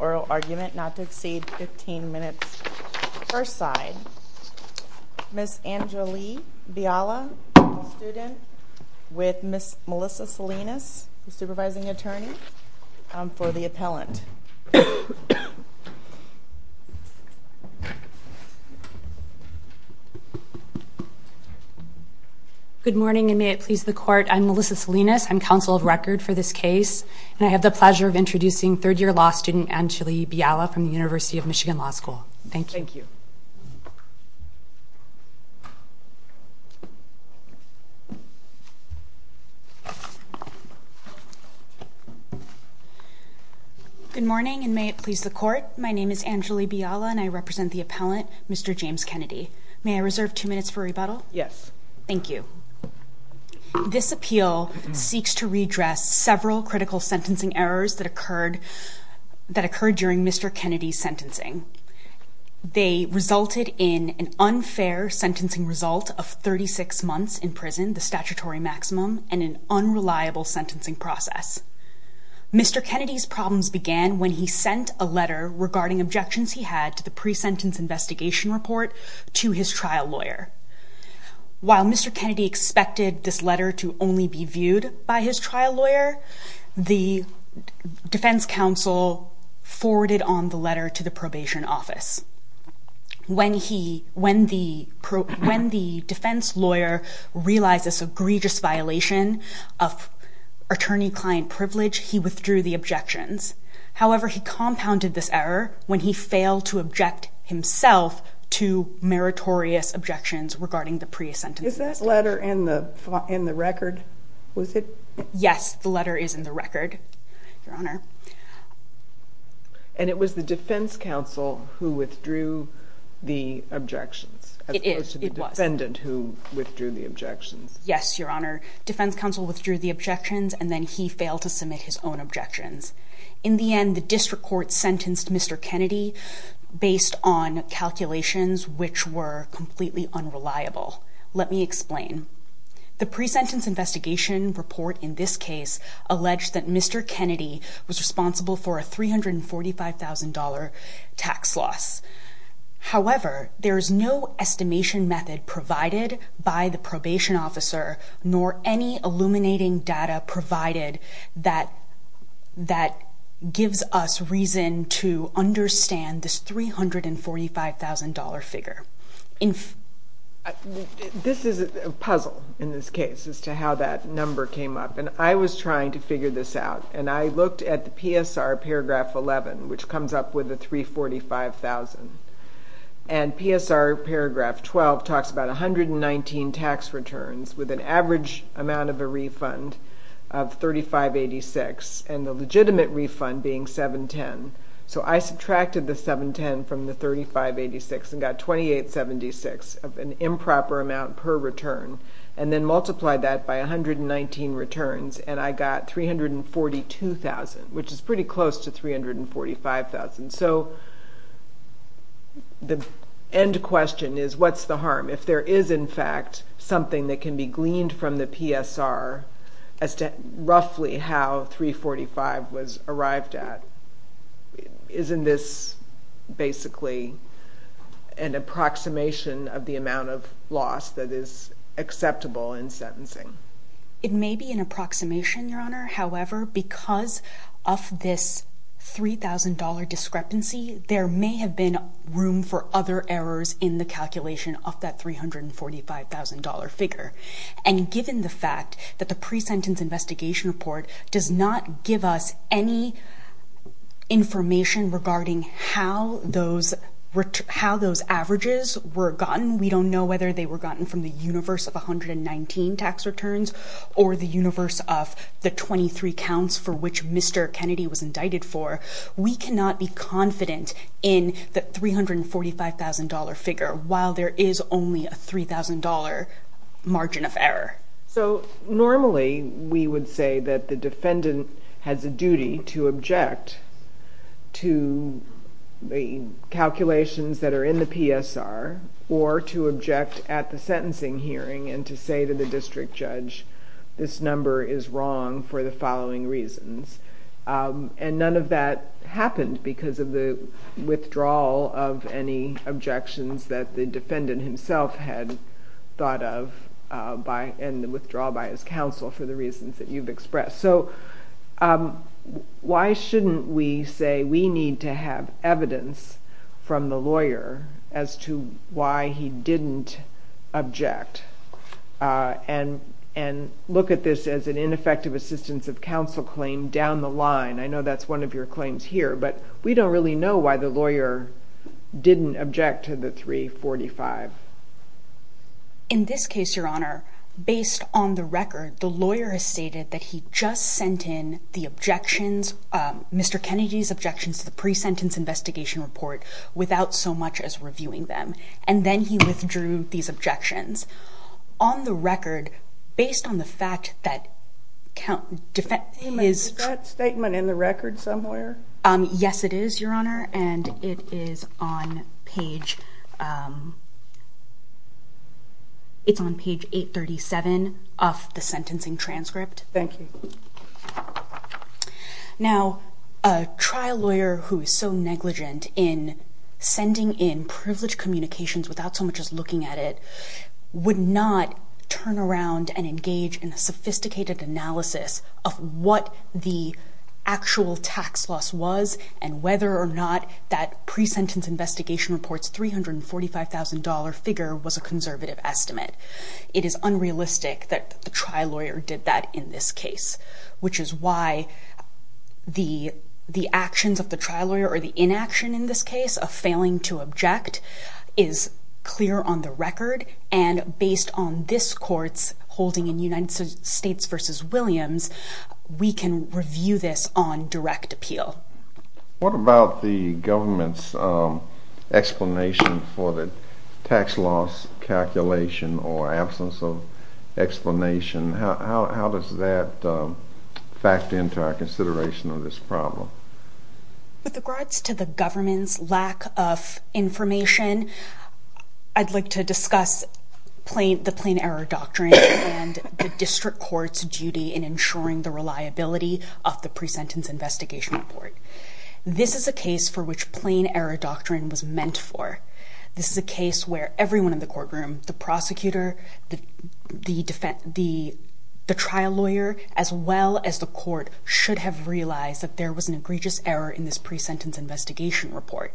Oral argument not to exceed 15 minutes per side. Ms. Anjali Biala, student, with Ms. Melissa Salinas, supervising attorney, for the appellant. Good morning, and may it please the court, I'm Melissa Salinas, I'm counsel of record for this case, and I have the pleasure of introducing third-year law student Anjali Biala from the University of Michigan Law School. Thank you. Good morning, and may it please the court, my name is Anjali Biala, and I represent the appellant, Mr. James Kennedy. May I reserve two minutes for rebuttal? Yes. Thank you. This appeal seeks to redress several critical sentencing errors that occurred during Mr. Kennedy's sentencing. They resulted in an unfair sentencing result of 36 months in prison, the statutory maximum, and an unreliable sentencing process. Mr. Kennedy's problems began when he sent a letter regarding objections he had to the pre-sentence investigation report to his trial lawyer. While Mr. Kennedy expected this letter to only be viewed by his trial lawyer, the defense counsel forwarded on the letter to the probation office. When the defense lawyer realized this egregious violation of attorney-client privilege, he withdrew the objections. However, he compounded this error when he failed to object himself to meritorious objections regarding the pre-sentence investigation. Is that letter in the record? Was it? Yes, the letter is in the record, Your Honor. And it was the defense counsel who withdrew the objections, as opposed to the defendant who withdrew the objections? Yes, Your Honor. Defense counsel withdrew the objections, and then he failed to submit his own objections. In the end, the district court sentenced Mr. Kennedy based on calculations which were completely unreliable. Let me explain. The pre-sentence investigation report in this case alleged that Mr. Kennedy was responsible for a $345,000 tax loss. However, there is no estimation method provided by the probation officer, nor any illuminating data provided that gives us reason to understand this $345,000 figure. This is a puzzle in this case as to how that number came up, and I was trying to figure this out. And I looked at the PSR paragraph 11, which comes up with the $345,000. And PSR paragraph 12 talks about 119 tax returns with an average amount of a refund of $35.86, and the legitimate refund being $7.10. So I subtracted the $7.10 from the $35.86 and got $28.76 of an improper amount per return, and then multiplied that by 119 returns, and I got $342,000, which is pretty close to $345,000. So the end question is, what's the harm? If there is, in fact, something that can be gleaned from the PSR as to roughly how $345,000 was arrived at, isn't this basically an approximation of the amount of loss that is acceptable in sentencing? It may be an approximation, Your Honor. However, because of this $3,000 discrepancy, there may have been room for other errors in the calculation of that $345,000 figure. And given the fact that the pre-sentence investigation report does not give us any information regarding how those averages were gotten, we don't know whether they were gotten from the universe of 119 tax returns or the universe of the 23 counts for which Mr. Kennedy was indicted for, we cannot be confident in the $345,000 figure while there is only a $3,000 margin of error. So normally, we would say that the defendant has a duty to object to the calculations that are in the PSR, or to object at the sentencing hearing and to say to the district judge, this number is wrong for the following reasons. And none of that happened because of the withdrawal of any objections that the defendant himself had thought of and the withdrawal by his counsel for the reasons that you've expressed. So, why shouldn't we say we need to have evidence from the lawyer as to why he didn't object? And look at this as an ineffective assistance of counsel claim down the line. I know that's one of your claims here, but we don't really know why the lawyer didn't object to the $345,000. In this case, Your Honor, based on the record, the lawyer has stated that he just sent in the objections, Mr. Kennedy's objections to the pre-sentence investigation report, without so much as reviewing them, and then he withdrew these objections. On the record, based on the fact that... Is that statement in the record somewhere? Yes, it is, Your Honor, and it is on page 837 of the sentencing transcript. Thank you. Now, a trial lawyer who is so negligent in sending in privileged communications without so much as looking at it would not turn around and engage in a sophisticated analysis of what the actual tax loss was and whether or not that pre-sentence investigation report's $345,000 figure was a conservative estimate. It is unrealistic that the trial lawyer did that in this case, which is why the actions of the trial lawyer or the inaction in this case of failing to object is clear on the record, and based on this court's holding in United States v. Williams, we can review this on direct appeal. What about the government's explanation for the tax loss calculation or absence of explanation? How does that factor into our consideration of this problem? With regards to the government's lack of information, I'd like to discuss the plain error doctrine and the district court's duty in ensuring the reliability of the pre-sentence investigation report. This is a case for which plain error doctrine was meant for. This is a case where everyone in the courtroom, the prosecutor, the trial lawyer, as well as the court, should have realized that there was an egregious error in this pre-sentence investigation report.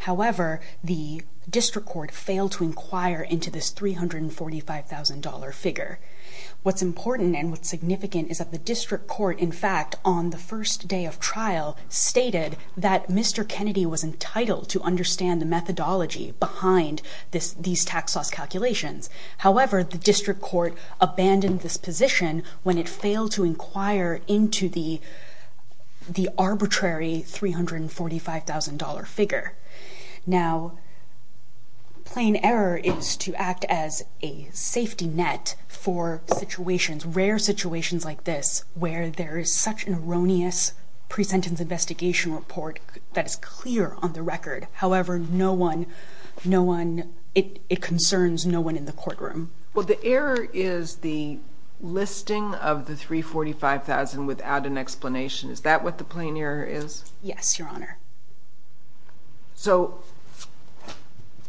However, the district court failed to inquire into this $345,000 figure. What's important and what's significant is that the district court, in fact, on the first day of trial, stated that Mr. Kennedy was entitled to understand the methodology behind these tax loss calculations. However, the district court abandoned this position when it failed to inquire into the arbitrary $345,000 figure. Now, plain error is to act as a safety net for situations, rare situations like this, where there is such an erroneous pre-sentence investigation report that is clear on the record. However, it concerns no one in the courtroom. Well, the error is the listing of the $345,000 without an explanation. Is that what the plain error is? Yes, Your Honor. So,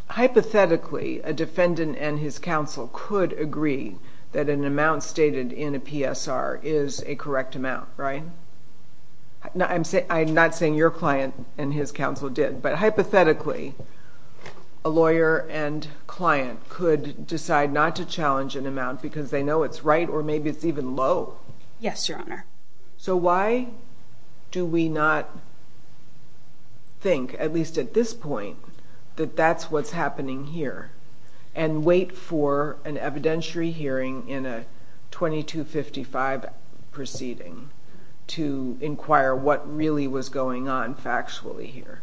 hypothetically, a defendant and his counsel could agree that an amount stated in a PSR is a correct amount, right? I'm not saying your client and his counsel did, but hypothetically, a lawyer and client could decide not to challenge an amount because they know it's right or maybe it's even low. Yes, Your Honor. So why do we not think, at least at this point, that that's what's happening here and wait for an evidentiary hearing in a 2255 proceeding to inquire what really was going on factually here?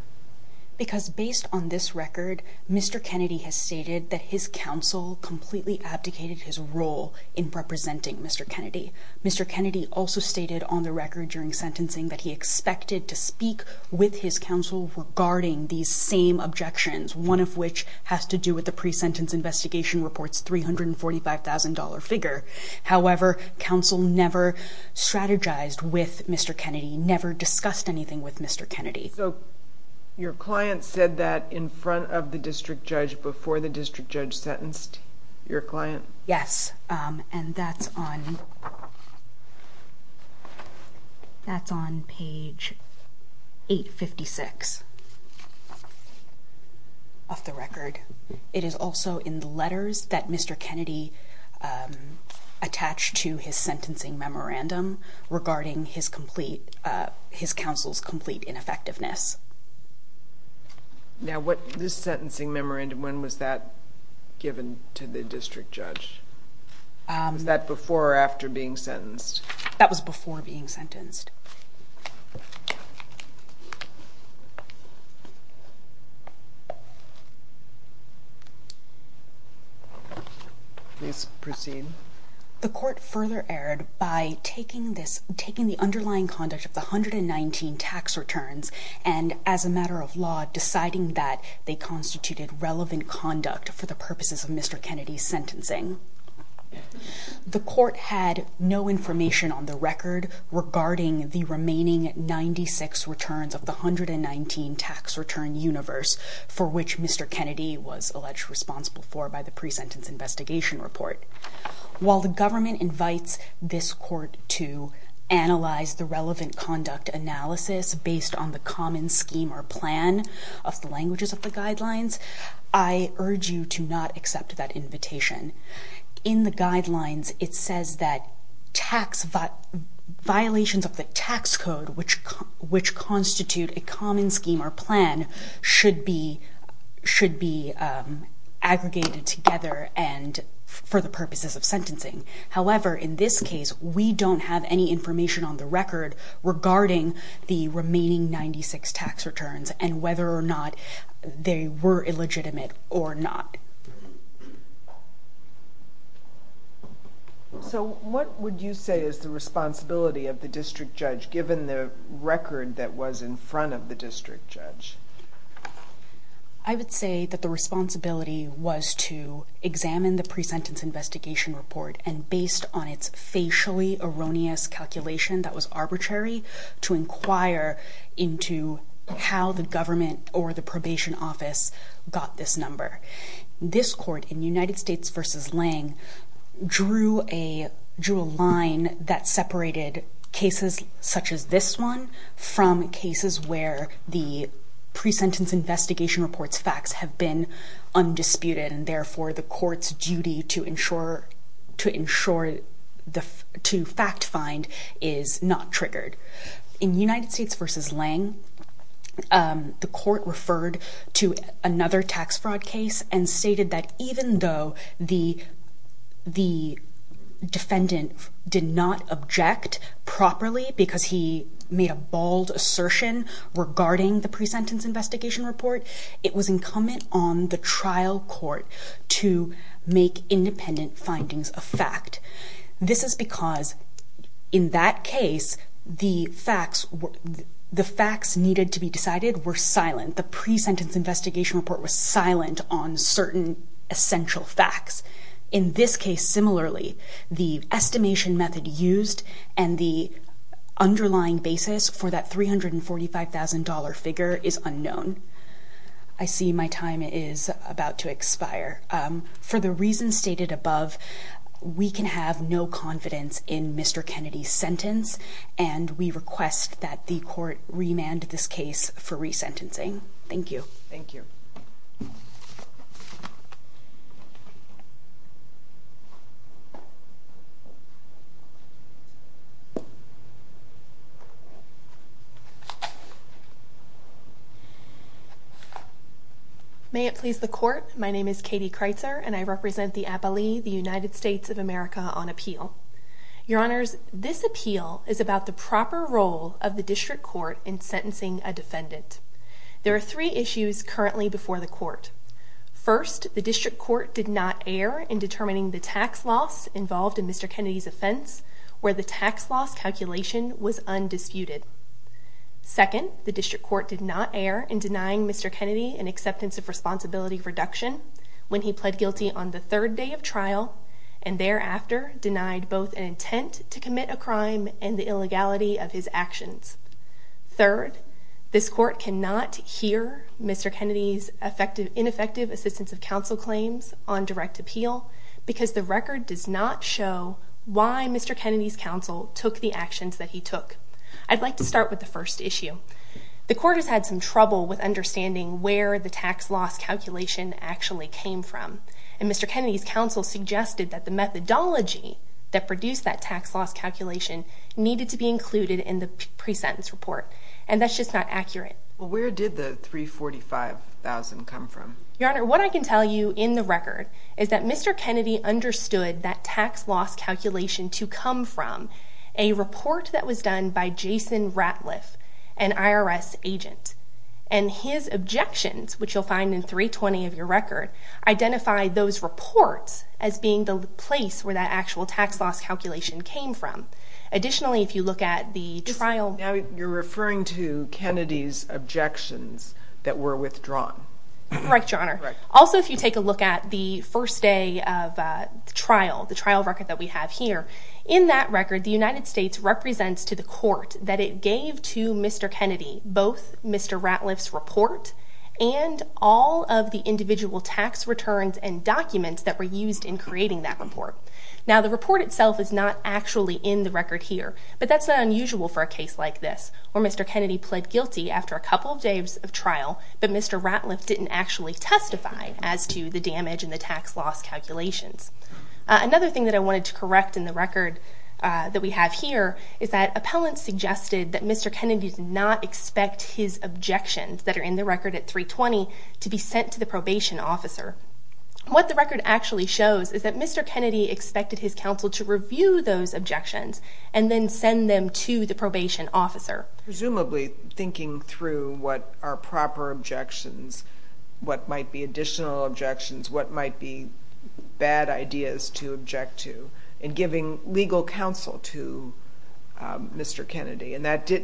Because based on this record, Mr. Kennedy has stated that his counsel completely abdicated his role in representing Mr. Kennedy. Mr. Kennedy also stated on the record during sentencing that he expected to speak with his counsel regarding these same objections, one of which has to do with the pre-sentence investigation report's $345,000 figure. However, counsel never strategized with Mr. Kennedy, never discussed anything with Mr. Kennedy. So your client said that in front of the district judge before the district judge sentenced your client? Yes, and that's on page 856 of the record. It is also in the letters that Mr. Kennedy attached to his sentencing memorandum regarding his counsel's complete ineffectiveness. Now, this sentencing memorandum, when was that given to the district judge? Was that before or after being sentenced? That was before being sentenced. Please proceed. The court further erred by taking the underlying conduct of the 119 tax returns and, as a matter of law, deciding that they constituted relevant conduct for the purposes of Mr. Kennedy's sentencing. The court had no information on the record regarding the remaining 96 returns of the 119 tax return universe for which Mr. Kennedy was alleged responsible for by the pre-sentence investigation report. While the government invites this court to analyze the relevant conduct analysis based on the common scheme or plan of the languages of the guidelines, I urge you to not accept that invitation. In the guidelines, it says that violations of the tax code, which constitute a common scheme or plan, should be aggregated together for the purposes of sentencing. However, in this case, we don't have any information on the record regarding the remaining 96 tax returns and whether or not they were illegitimate or not. So what would you say is the responsibility of the district judge, given the record that was in front of the district judge? I would say that the responsibility was to examine the pre-sentence investigation report and, based on its facially erroneous calculation that was arbitrary, to inquire into how the government or the probation office got this number. This court, in United States v. Lange, drew a line that separated cases such as this one from cases where the pre-sentence investigation report's facts have been undisputed and, therefore, the court's duty to fact-find is not triggered. In United States v. Lange, the court referred to another tax fraud case and stated that even though the defendant did not object properly because he made a bald assertion regarding the pre-sentence investigation report, it was incumbent on the trial court to make independent findings a fact. This is because, in that case, the facts needed to be decided were silent. The pre-sentence investigation report was silent on certain essential facts. In this case, similarly, the estimation method used and the underlying basis for that $345,000 figure is unknown. I see my time is about to expire. For the reasons stated above, we can have no confidence in Mr. Kennedy's sentence and we request that the court remand this case for resentencing. Thank you. Thank you. Thank you. May it please the court, my name is Katie Kreitzer and I represent the Appalee, the United States of America, on appeal. Your Honors, this appeal is about the proper role of the district court in sentencing a defendant. There are three issues currently before the court. First, the district court did not err in determining the tax loss involved in Mr. Kennedy's offense where the tax loss calculation was undisputed. Second, the district court did not err in denying Mr. Kennedy an acceptance of responsibility for deduction when he pled guilty on the third day of trial and thereafter denied both an intent to commit a crime and the illegality of his actions. Third, this court cannot hear Mr. Kennedy's ineffective assistance of counsel claims on direct appeal because the record does not show why Mr. Kennedy's counsel took the actions that he took. I'd like to start with the first issue. The court has had some trouble with understanding where the tax loss calculation actually came from and Mr. Kennedy's counsel suggested that the methodology that produced that tax loss calculation needed to be included in the pre-sentence report. And that's just not accurate. Where did the $345,000 come from? Your Honor, what I can tell you in the record is that Mr. Kennedy understood that tax loss calculation to come from a report that was done by Jason Ratliff, an IRS agent. And his objections, which you'll find in 320 of your record, identify those reports as being the place where that actual tax loss calculation came from. Additionally, if you look at the trial... Now you're referring to Kennedy's objections that were withdrawn. Correct, Your Honor. Correct. Also, if you take a look at the first day of trial, the trial record that we have here, in that record the United States represents to the court that it gave to Mr. Kennedy both Mr. Ratliff's report and all of the individual tax returns and documents that were used in creating that report. Now the report itself is not actually in the record here, but that's not unusual for a case like this, where Mr. Kennedy pled guilty after a couple of days of trial, but Mr. Ratliff didn't actually testify as to the damage in the tax loss calculations. Another thing that I wanted to correct in the record that we have here is that appellants suggested that Mr. Kennedy not expect his objections that are in the record at 320 to be sent to the probation officer. What the record actually shows is that Mr. Kennedy expected his counsel to review those objections and then send them to the probation officer. Presumably thinking through what are proper objections, what might be additional objections, what might be bad ideas to object to, and giving legal counsel to Mr. Kennedy. And that's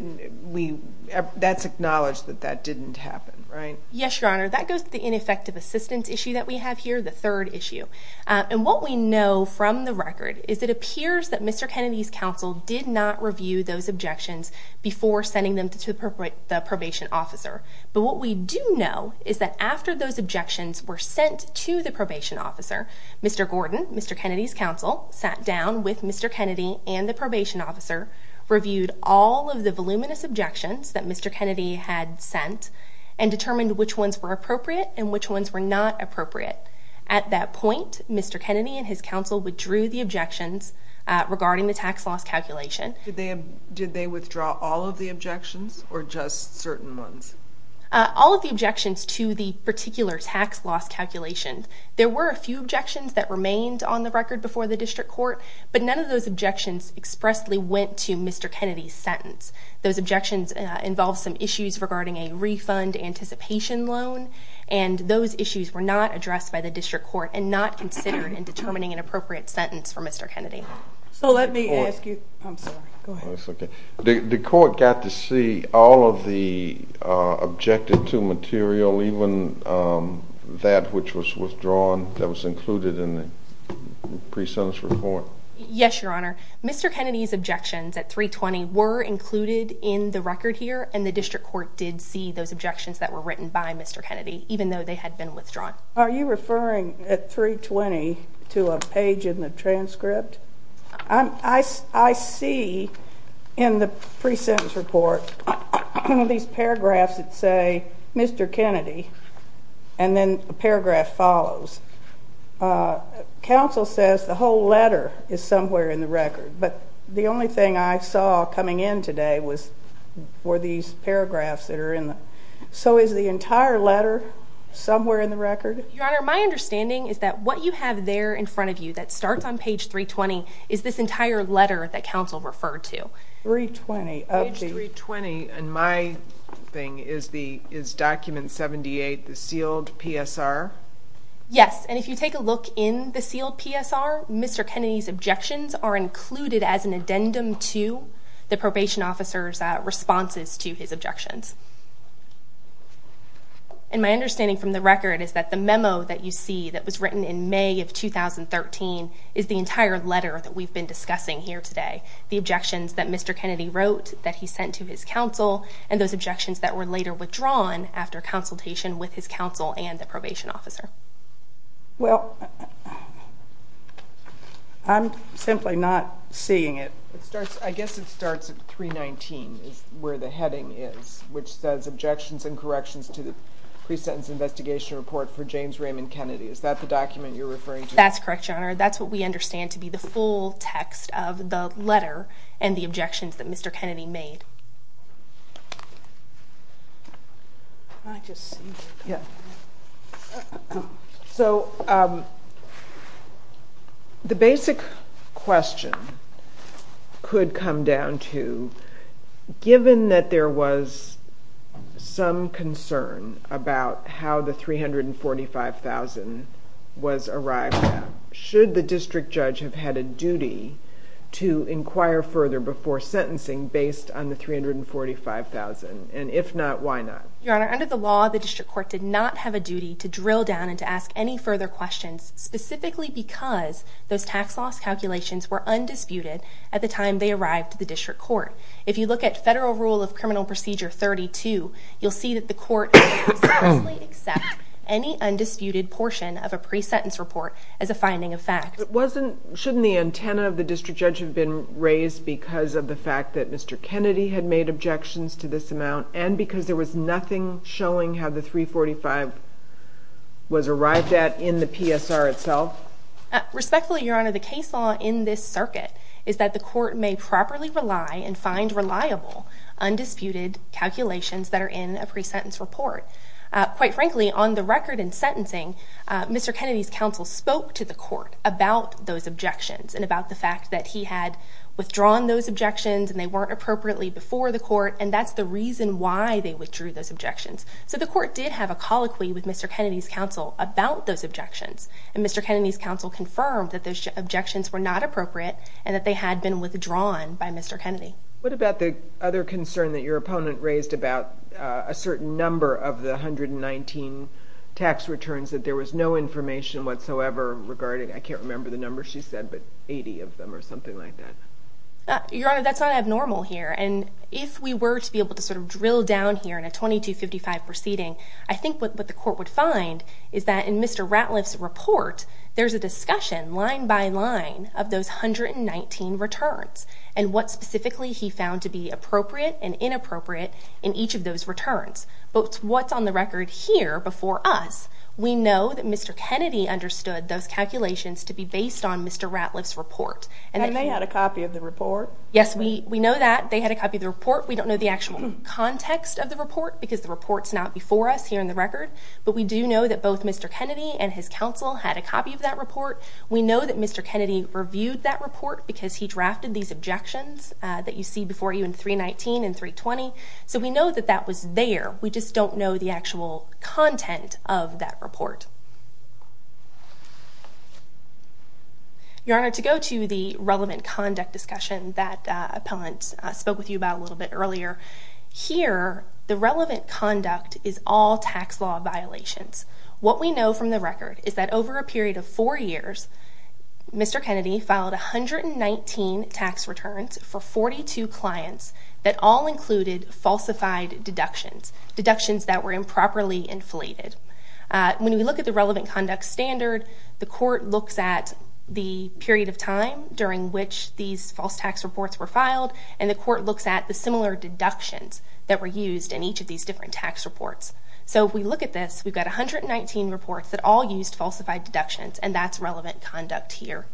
acknowledged that that didn't happen, right? Yes, Your Honor. That goes to the ineffective assistance issue that we have here, the third issue. And what we know from the record is it appears that Mr. Kennedy's counsel did not review those objections before sending them to the probation officer. But what we do know is that after those objections were sent to the probation officer, Mr. Gordon, Mr. Kennedy's counsel, sat down with Mr. Kennedy and the probation officer, reviewed all of the voluminous objections that Mr. Kennedy had sent, and determined which ones were appropriate and which ones were not appropriate. At that point, Mr. Kennedy and his counsel withdrew the objections regarding the tax loss calculation. Did they withdraw all of the objections or just certain ones? All of the objections to the particular tax loss calculation. There were a few objections that remained on the record before the district court, but none of those objections expressly went to Mr. Kennedy's sentence. Those objections involved some issues regarding a refund anticipation loan, and those issues were not addressed by the district court and not considered in determining an appropriate sentence for Mr. Kennedy. So let me ask you, I'm sorry, go ahead. The court got to see all of the objected to material, even that which was withdrawn that was included in the pre-sentence report? Yes, Your Honor. Mr. Kennedy's objections at 320 were included in the record here, and the district court did see those objections that were written by Mr. Kennedy, even though they had been withdrawn. Are you referring at 320 to a page in the transcript? I see in the pre-sentence report these paragraphs that say Mr. Kennedy, and then a paragraph follows. Counsel says the whole letter is somewhere in the record, but the only thing I saw coming in today were these paragraphs that are in the record. So is the entire letter somewhere in the record? Your Honor, my understanding is that what you have there in front of you that starts on page 320 is this entire letter that counsel referred to. Page 320, and my thing is document 78, the sealed PSR? Yes, and if you take a look in the sealed PSR, Mr. Kennedy's objections are included as an addendum to the probation officer's responses to his objections. And my understanding from the record is that the memo that you see that was written in May of 2013 is the entire letter that we've been discussing here today, the objections that Mr. Kennedy wrote, that he sent to his counsel, and those objections that were later withdrawn after consultation with his counsel and the probation officer. Well, I'm simply not seeing it. I guess it starts at 319 is where the heading is, which says objections and corrections to the pre-sentence investigation report for James Raymond Kennedy. Is that the document you're referring to? That's correct, Your Honor. That's what we understand to be the full text of the letter and the objections that Mr. Kennedy made. So the basic question could come down to, given that there was some concern about how the $345,000 was arrived at, should the district judge have had a duty to inquire further before sentencing based on the $345,000? And if not, why not? Your Honor, under the law, the district court did not have a duty to drill down and to ask any further questions, specifically because those tax loss calculations were undisputed at the time they arrived to the district court. If you look at Federal Rule of Criminal Procedure 32, you'll see that the court could not seriously accept any undisputed portion of a pre-sentence report as a finding of fact. Shouldn't the antenna of the district judge have been raised because of the fact that Mr. Kennedy had made objections to this amount and because there was nothing showing how the $345,000 was arrived at in the PSR itself? Respectfully, Your Honor, the case law in this circuit is that the court may properly rely and find reliable undisputed calculations that are in a pre-sentence report. Quite frankly, on the record in sentencing, Mr. Kennedy's counsel spoke to the court about those objections and about the fact that he had withdrawn those objections and they weren't appropriately before the court, and that's the reason why they withdrew those objections. So the court did have a colloquy with Mr. Kennedy's counsel about those objections, and Mr. Kennedy's counsel confirmed that those objections were not appropriate and that they had been withdrawn by Mr. Kennedy. What about the other concern that your opponent raised about a certain number of the $119,000 tax returns that there was no information whatsoever regarding? I can't remember the number she said, but 80 of them or something like that. Your Honor, that's not abnormal here, and if we were to be able to sort of drill down here in a 2255 proceeding, I think what the court would find is that in Mr. Ratliff's report there's a discussion line by line of those $119,000 returns and what specifically he found to be appropriate and inappropriate in each of those returns. But what's on the record here before us, we know that Mr. Kennedy understood those calculations to be based on Mr. Ratliff's report. And they had a copy of the report? Yes, we know that. They had a copy of the report. We don't know the actual context of the report because the report's not before us here in the record, but we do know that both Mr. Kennedy and his counsel had a copy of that report. We know that Mr. Kennedy reviewed that report because he drafted these objections that you see before you in 319 and 320. So we know that that was there. We just don't know the actual content of that report. Your Honor, to go to the relevant conduct discussion that Appellant spoke with you about a little bit earlier, here, the relevant conduct is all tax law violations. What we know from the record is that over a period of four years, Mr. Kennedy filed 119 tax returns for 42 clients that all included falsified deductions, deductions that were improperly inflated. When we look at the relevant conduct standard, the court looks at the period of time during which these false tax reports were filed, and the court looks at the similar deductions that were used in each of these different tax reports. So if we look at this, we've got 119 reports that all used falsified deductions, and that's relevant conduct here.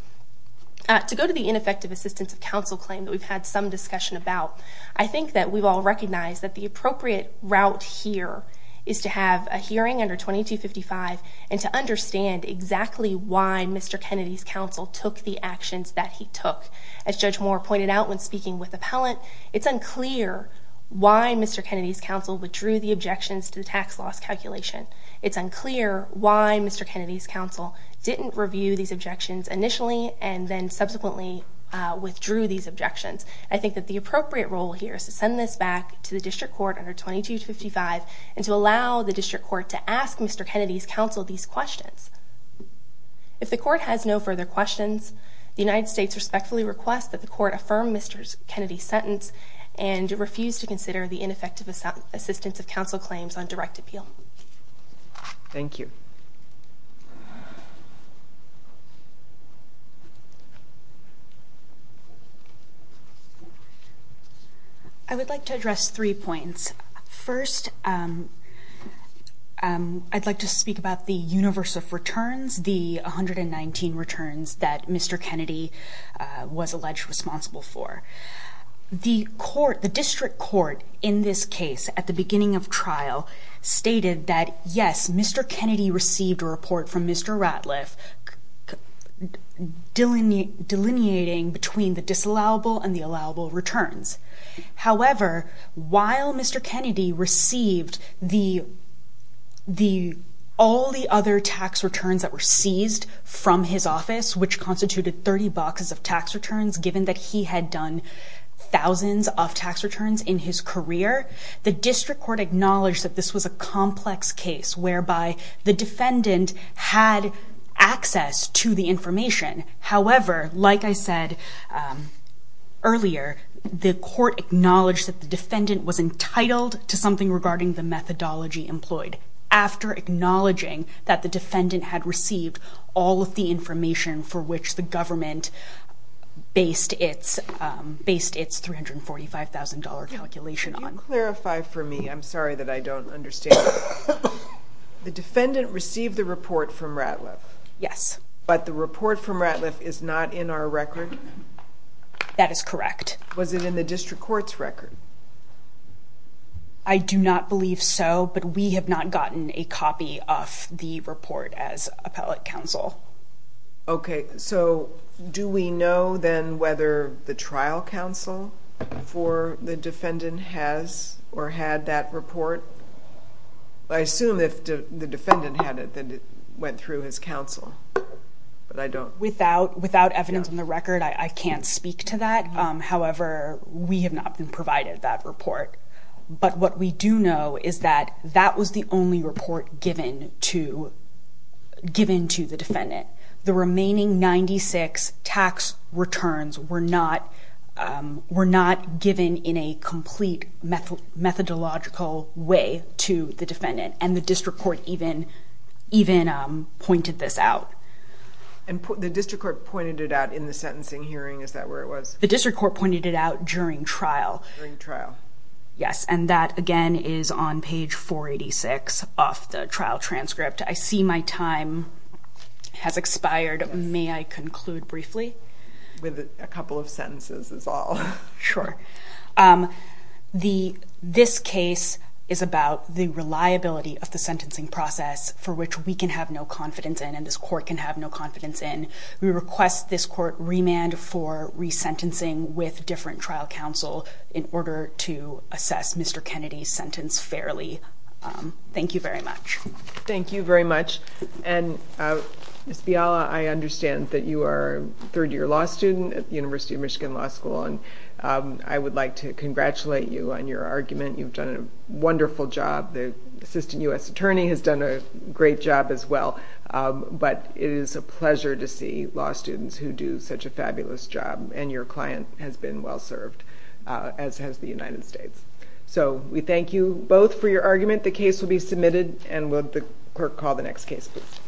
To go to the ineffective assistance of counsel claim that we've had some discussion about, I think that we've all recognized that the appropriate route here is to have a hearing under 2255 and to understand exactly why Mr. Kennedy's counsel took the actions that he took. As Judge Moore pointed out when speaking with appellant, it's unclear why Mr. Kennedy's counsel withdrew the objections to the tax loss calculation. It's unclear why Mr. Kennedy's counsel didn't review these objections initially and then subsequently withdrew these objections. I think that the appropriate role here is to send this back to the district court under 2255 and to allow the district court to ask Mr. Kennedy's counsel these questions. If the court has no further questions, the United States respectfully requests that the court affirm Mr. Kennedy's sentence and refuse to consider the ineffective assistance of counsel claims on direct appeal. Thank you. I would like to address three points. First, I'd like to speak about the universe of returns, the 119 returns that Mr. Kennedy was alleged responsible for. The district court in this case at the beginning of trial stated that yes, Mr. Kennedy received a report from Mr. Ratliff delineating between the disallowable and the allowable returns. However, while Mr. Kennedy received all the other tax returns that were seized from his office, which constituted 30 boxes of tax returns, given that he had done thousands of tax returns in his career, the district court acknowledged that this was a complex case whereby the defendant had access to the information. However, like I said earlier, the court acknowledged that the defendant was entitled to something regarding the methodology employed after acknowledging that the defendant had received all of the information for which the government based its $345,000 calculation on. Could you clarify for me? I'm sorry that I don't understand. The defendant received the report from Ratliff. Yes. But the report from Ratliff is not in our record? That is correct. Was it in the district court's record? I do not believe so, but we have not gotten a copy of the report as appellate counsel. Okay. So do we know then whether the trial counsel for the defendant has or had that report? I assume if the defendant had it, then it went through his counsel, but I don't. Without evidence in the record, I can't speak to that. However, we have not been provided that report. But what we do know is that that was the only report given to the defendant. The remaining 96 tax returns were not given in a complete methodological way to the defendant, and the district court even pointed this out. The district court pointed it out in the sentencing hearing. Is that where it was? The district court pointed it out during trial. During trial. Yes, and that, again, is on page 486 of the trial transcript. I see my time has expired. May I conclude briefly? With a couple of sentences is all. Sure. This case is about the reliability of the sentencing process for which we can have no confidence in and this court can have no confidence in. We request this court remand for resentencing with different trial counsel in order to assess Mr. Kennedy's sentence fairly. Thank you very much. Thank you very much. Ms. Biala, I understand that you are a third-year law student at the University of Michigan Law School, and I would like to congratulate you on your argument. You've done a wonderful job. The assistant U.S. attorney has done a great job as well. But it is a pleasure to see law students who do such a fabulous job, and your client has been well served, as has the United States. So we thank you both for your argument. The case will be submitted, and will the clerk call the next case, please?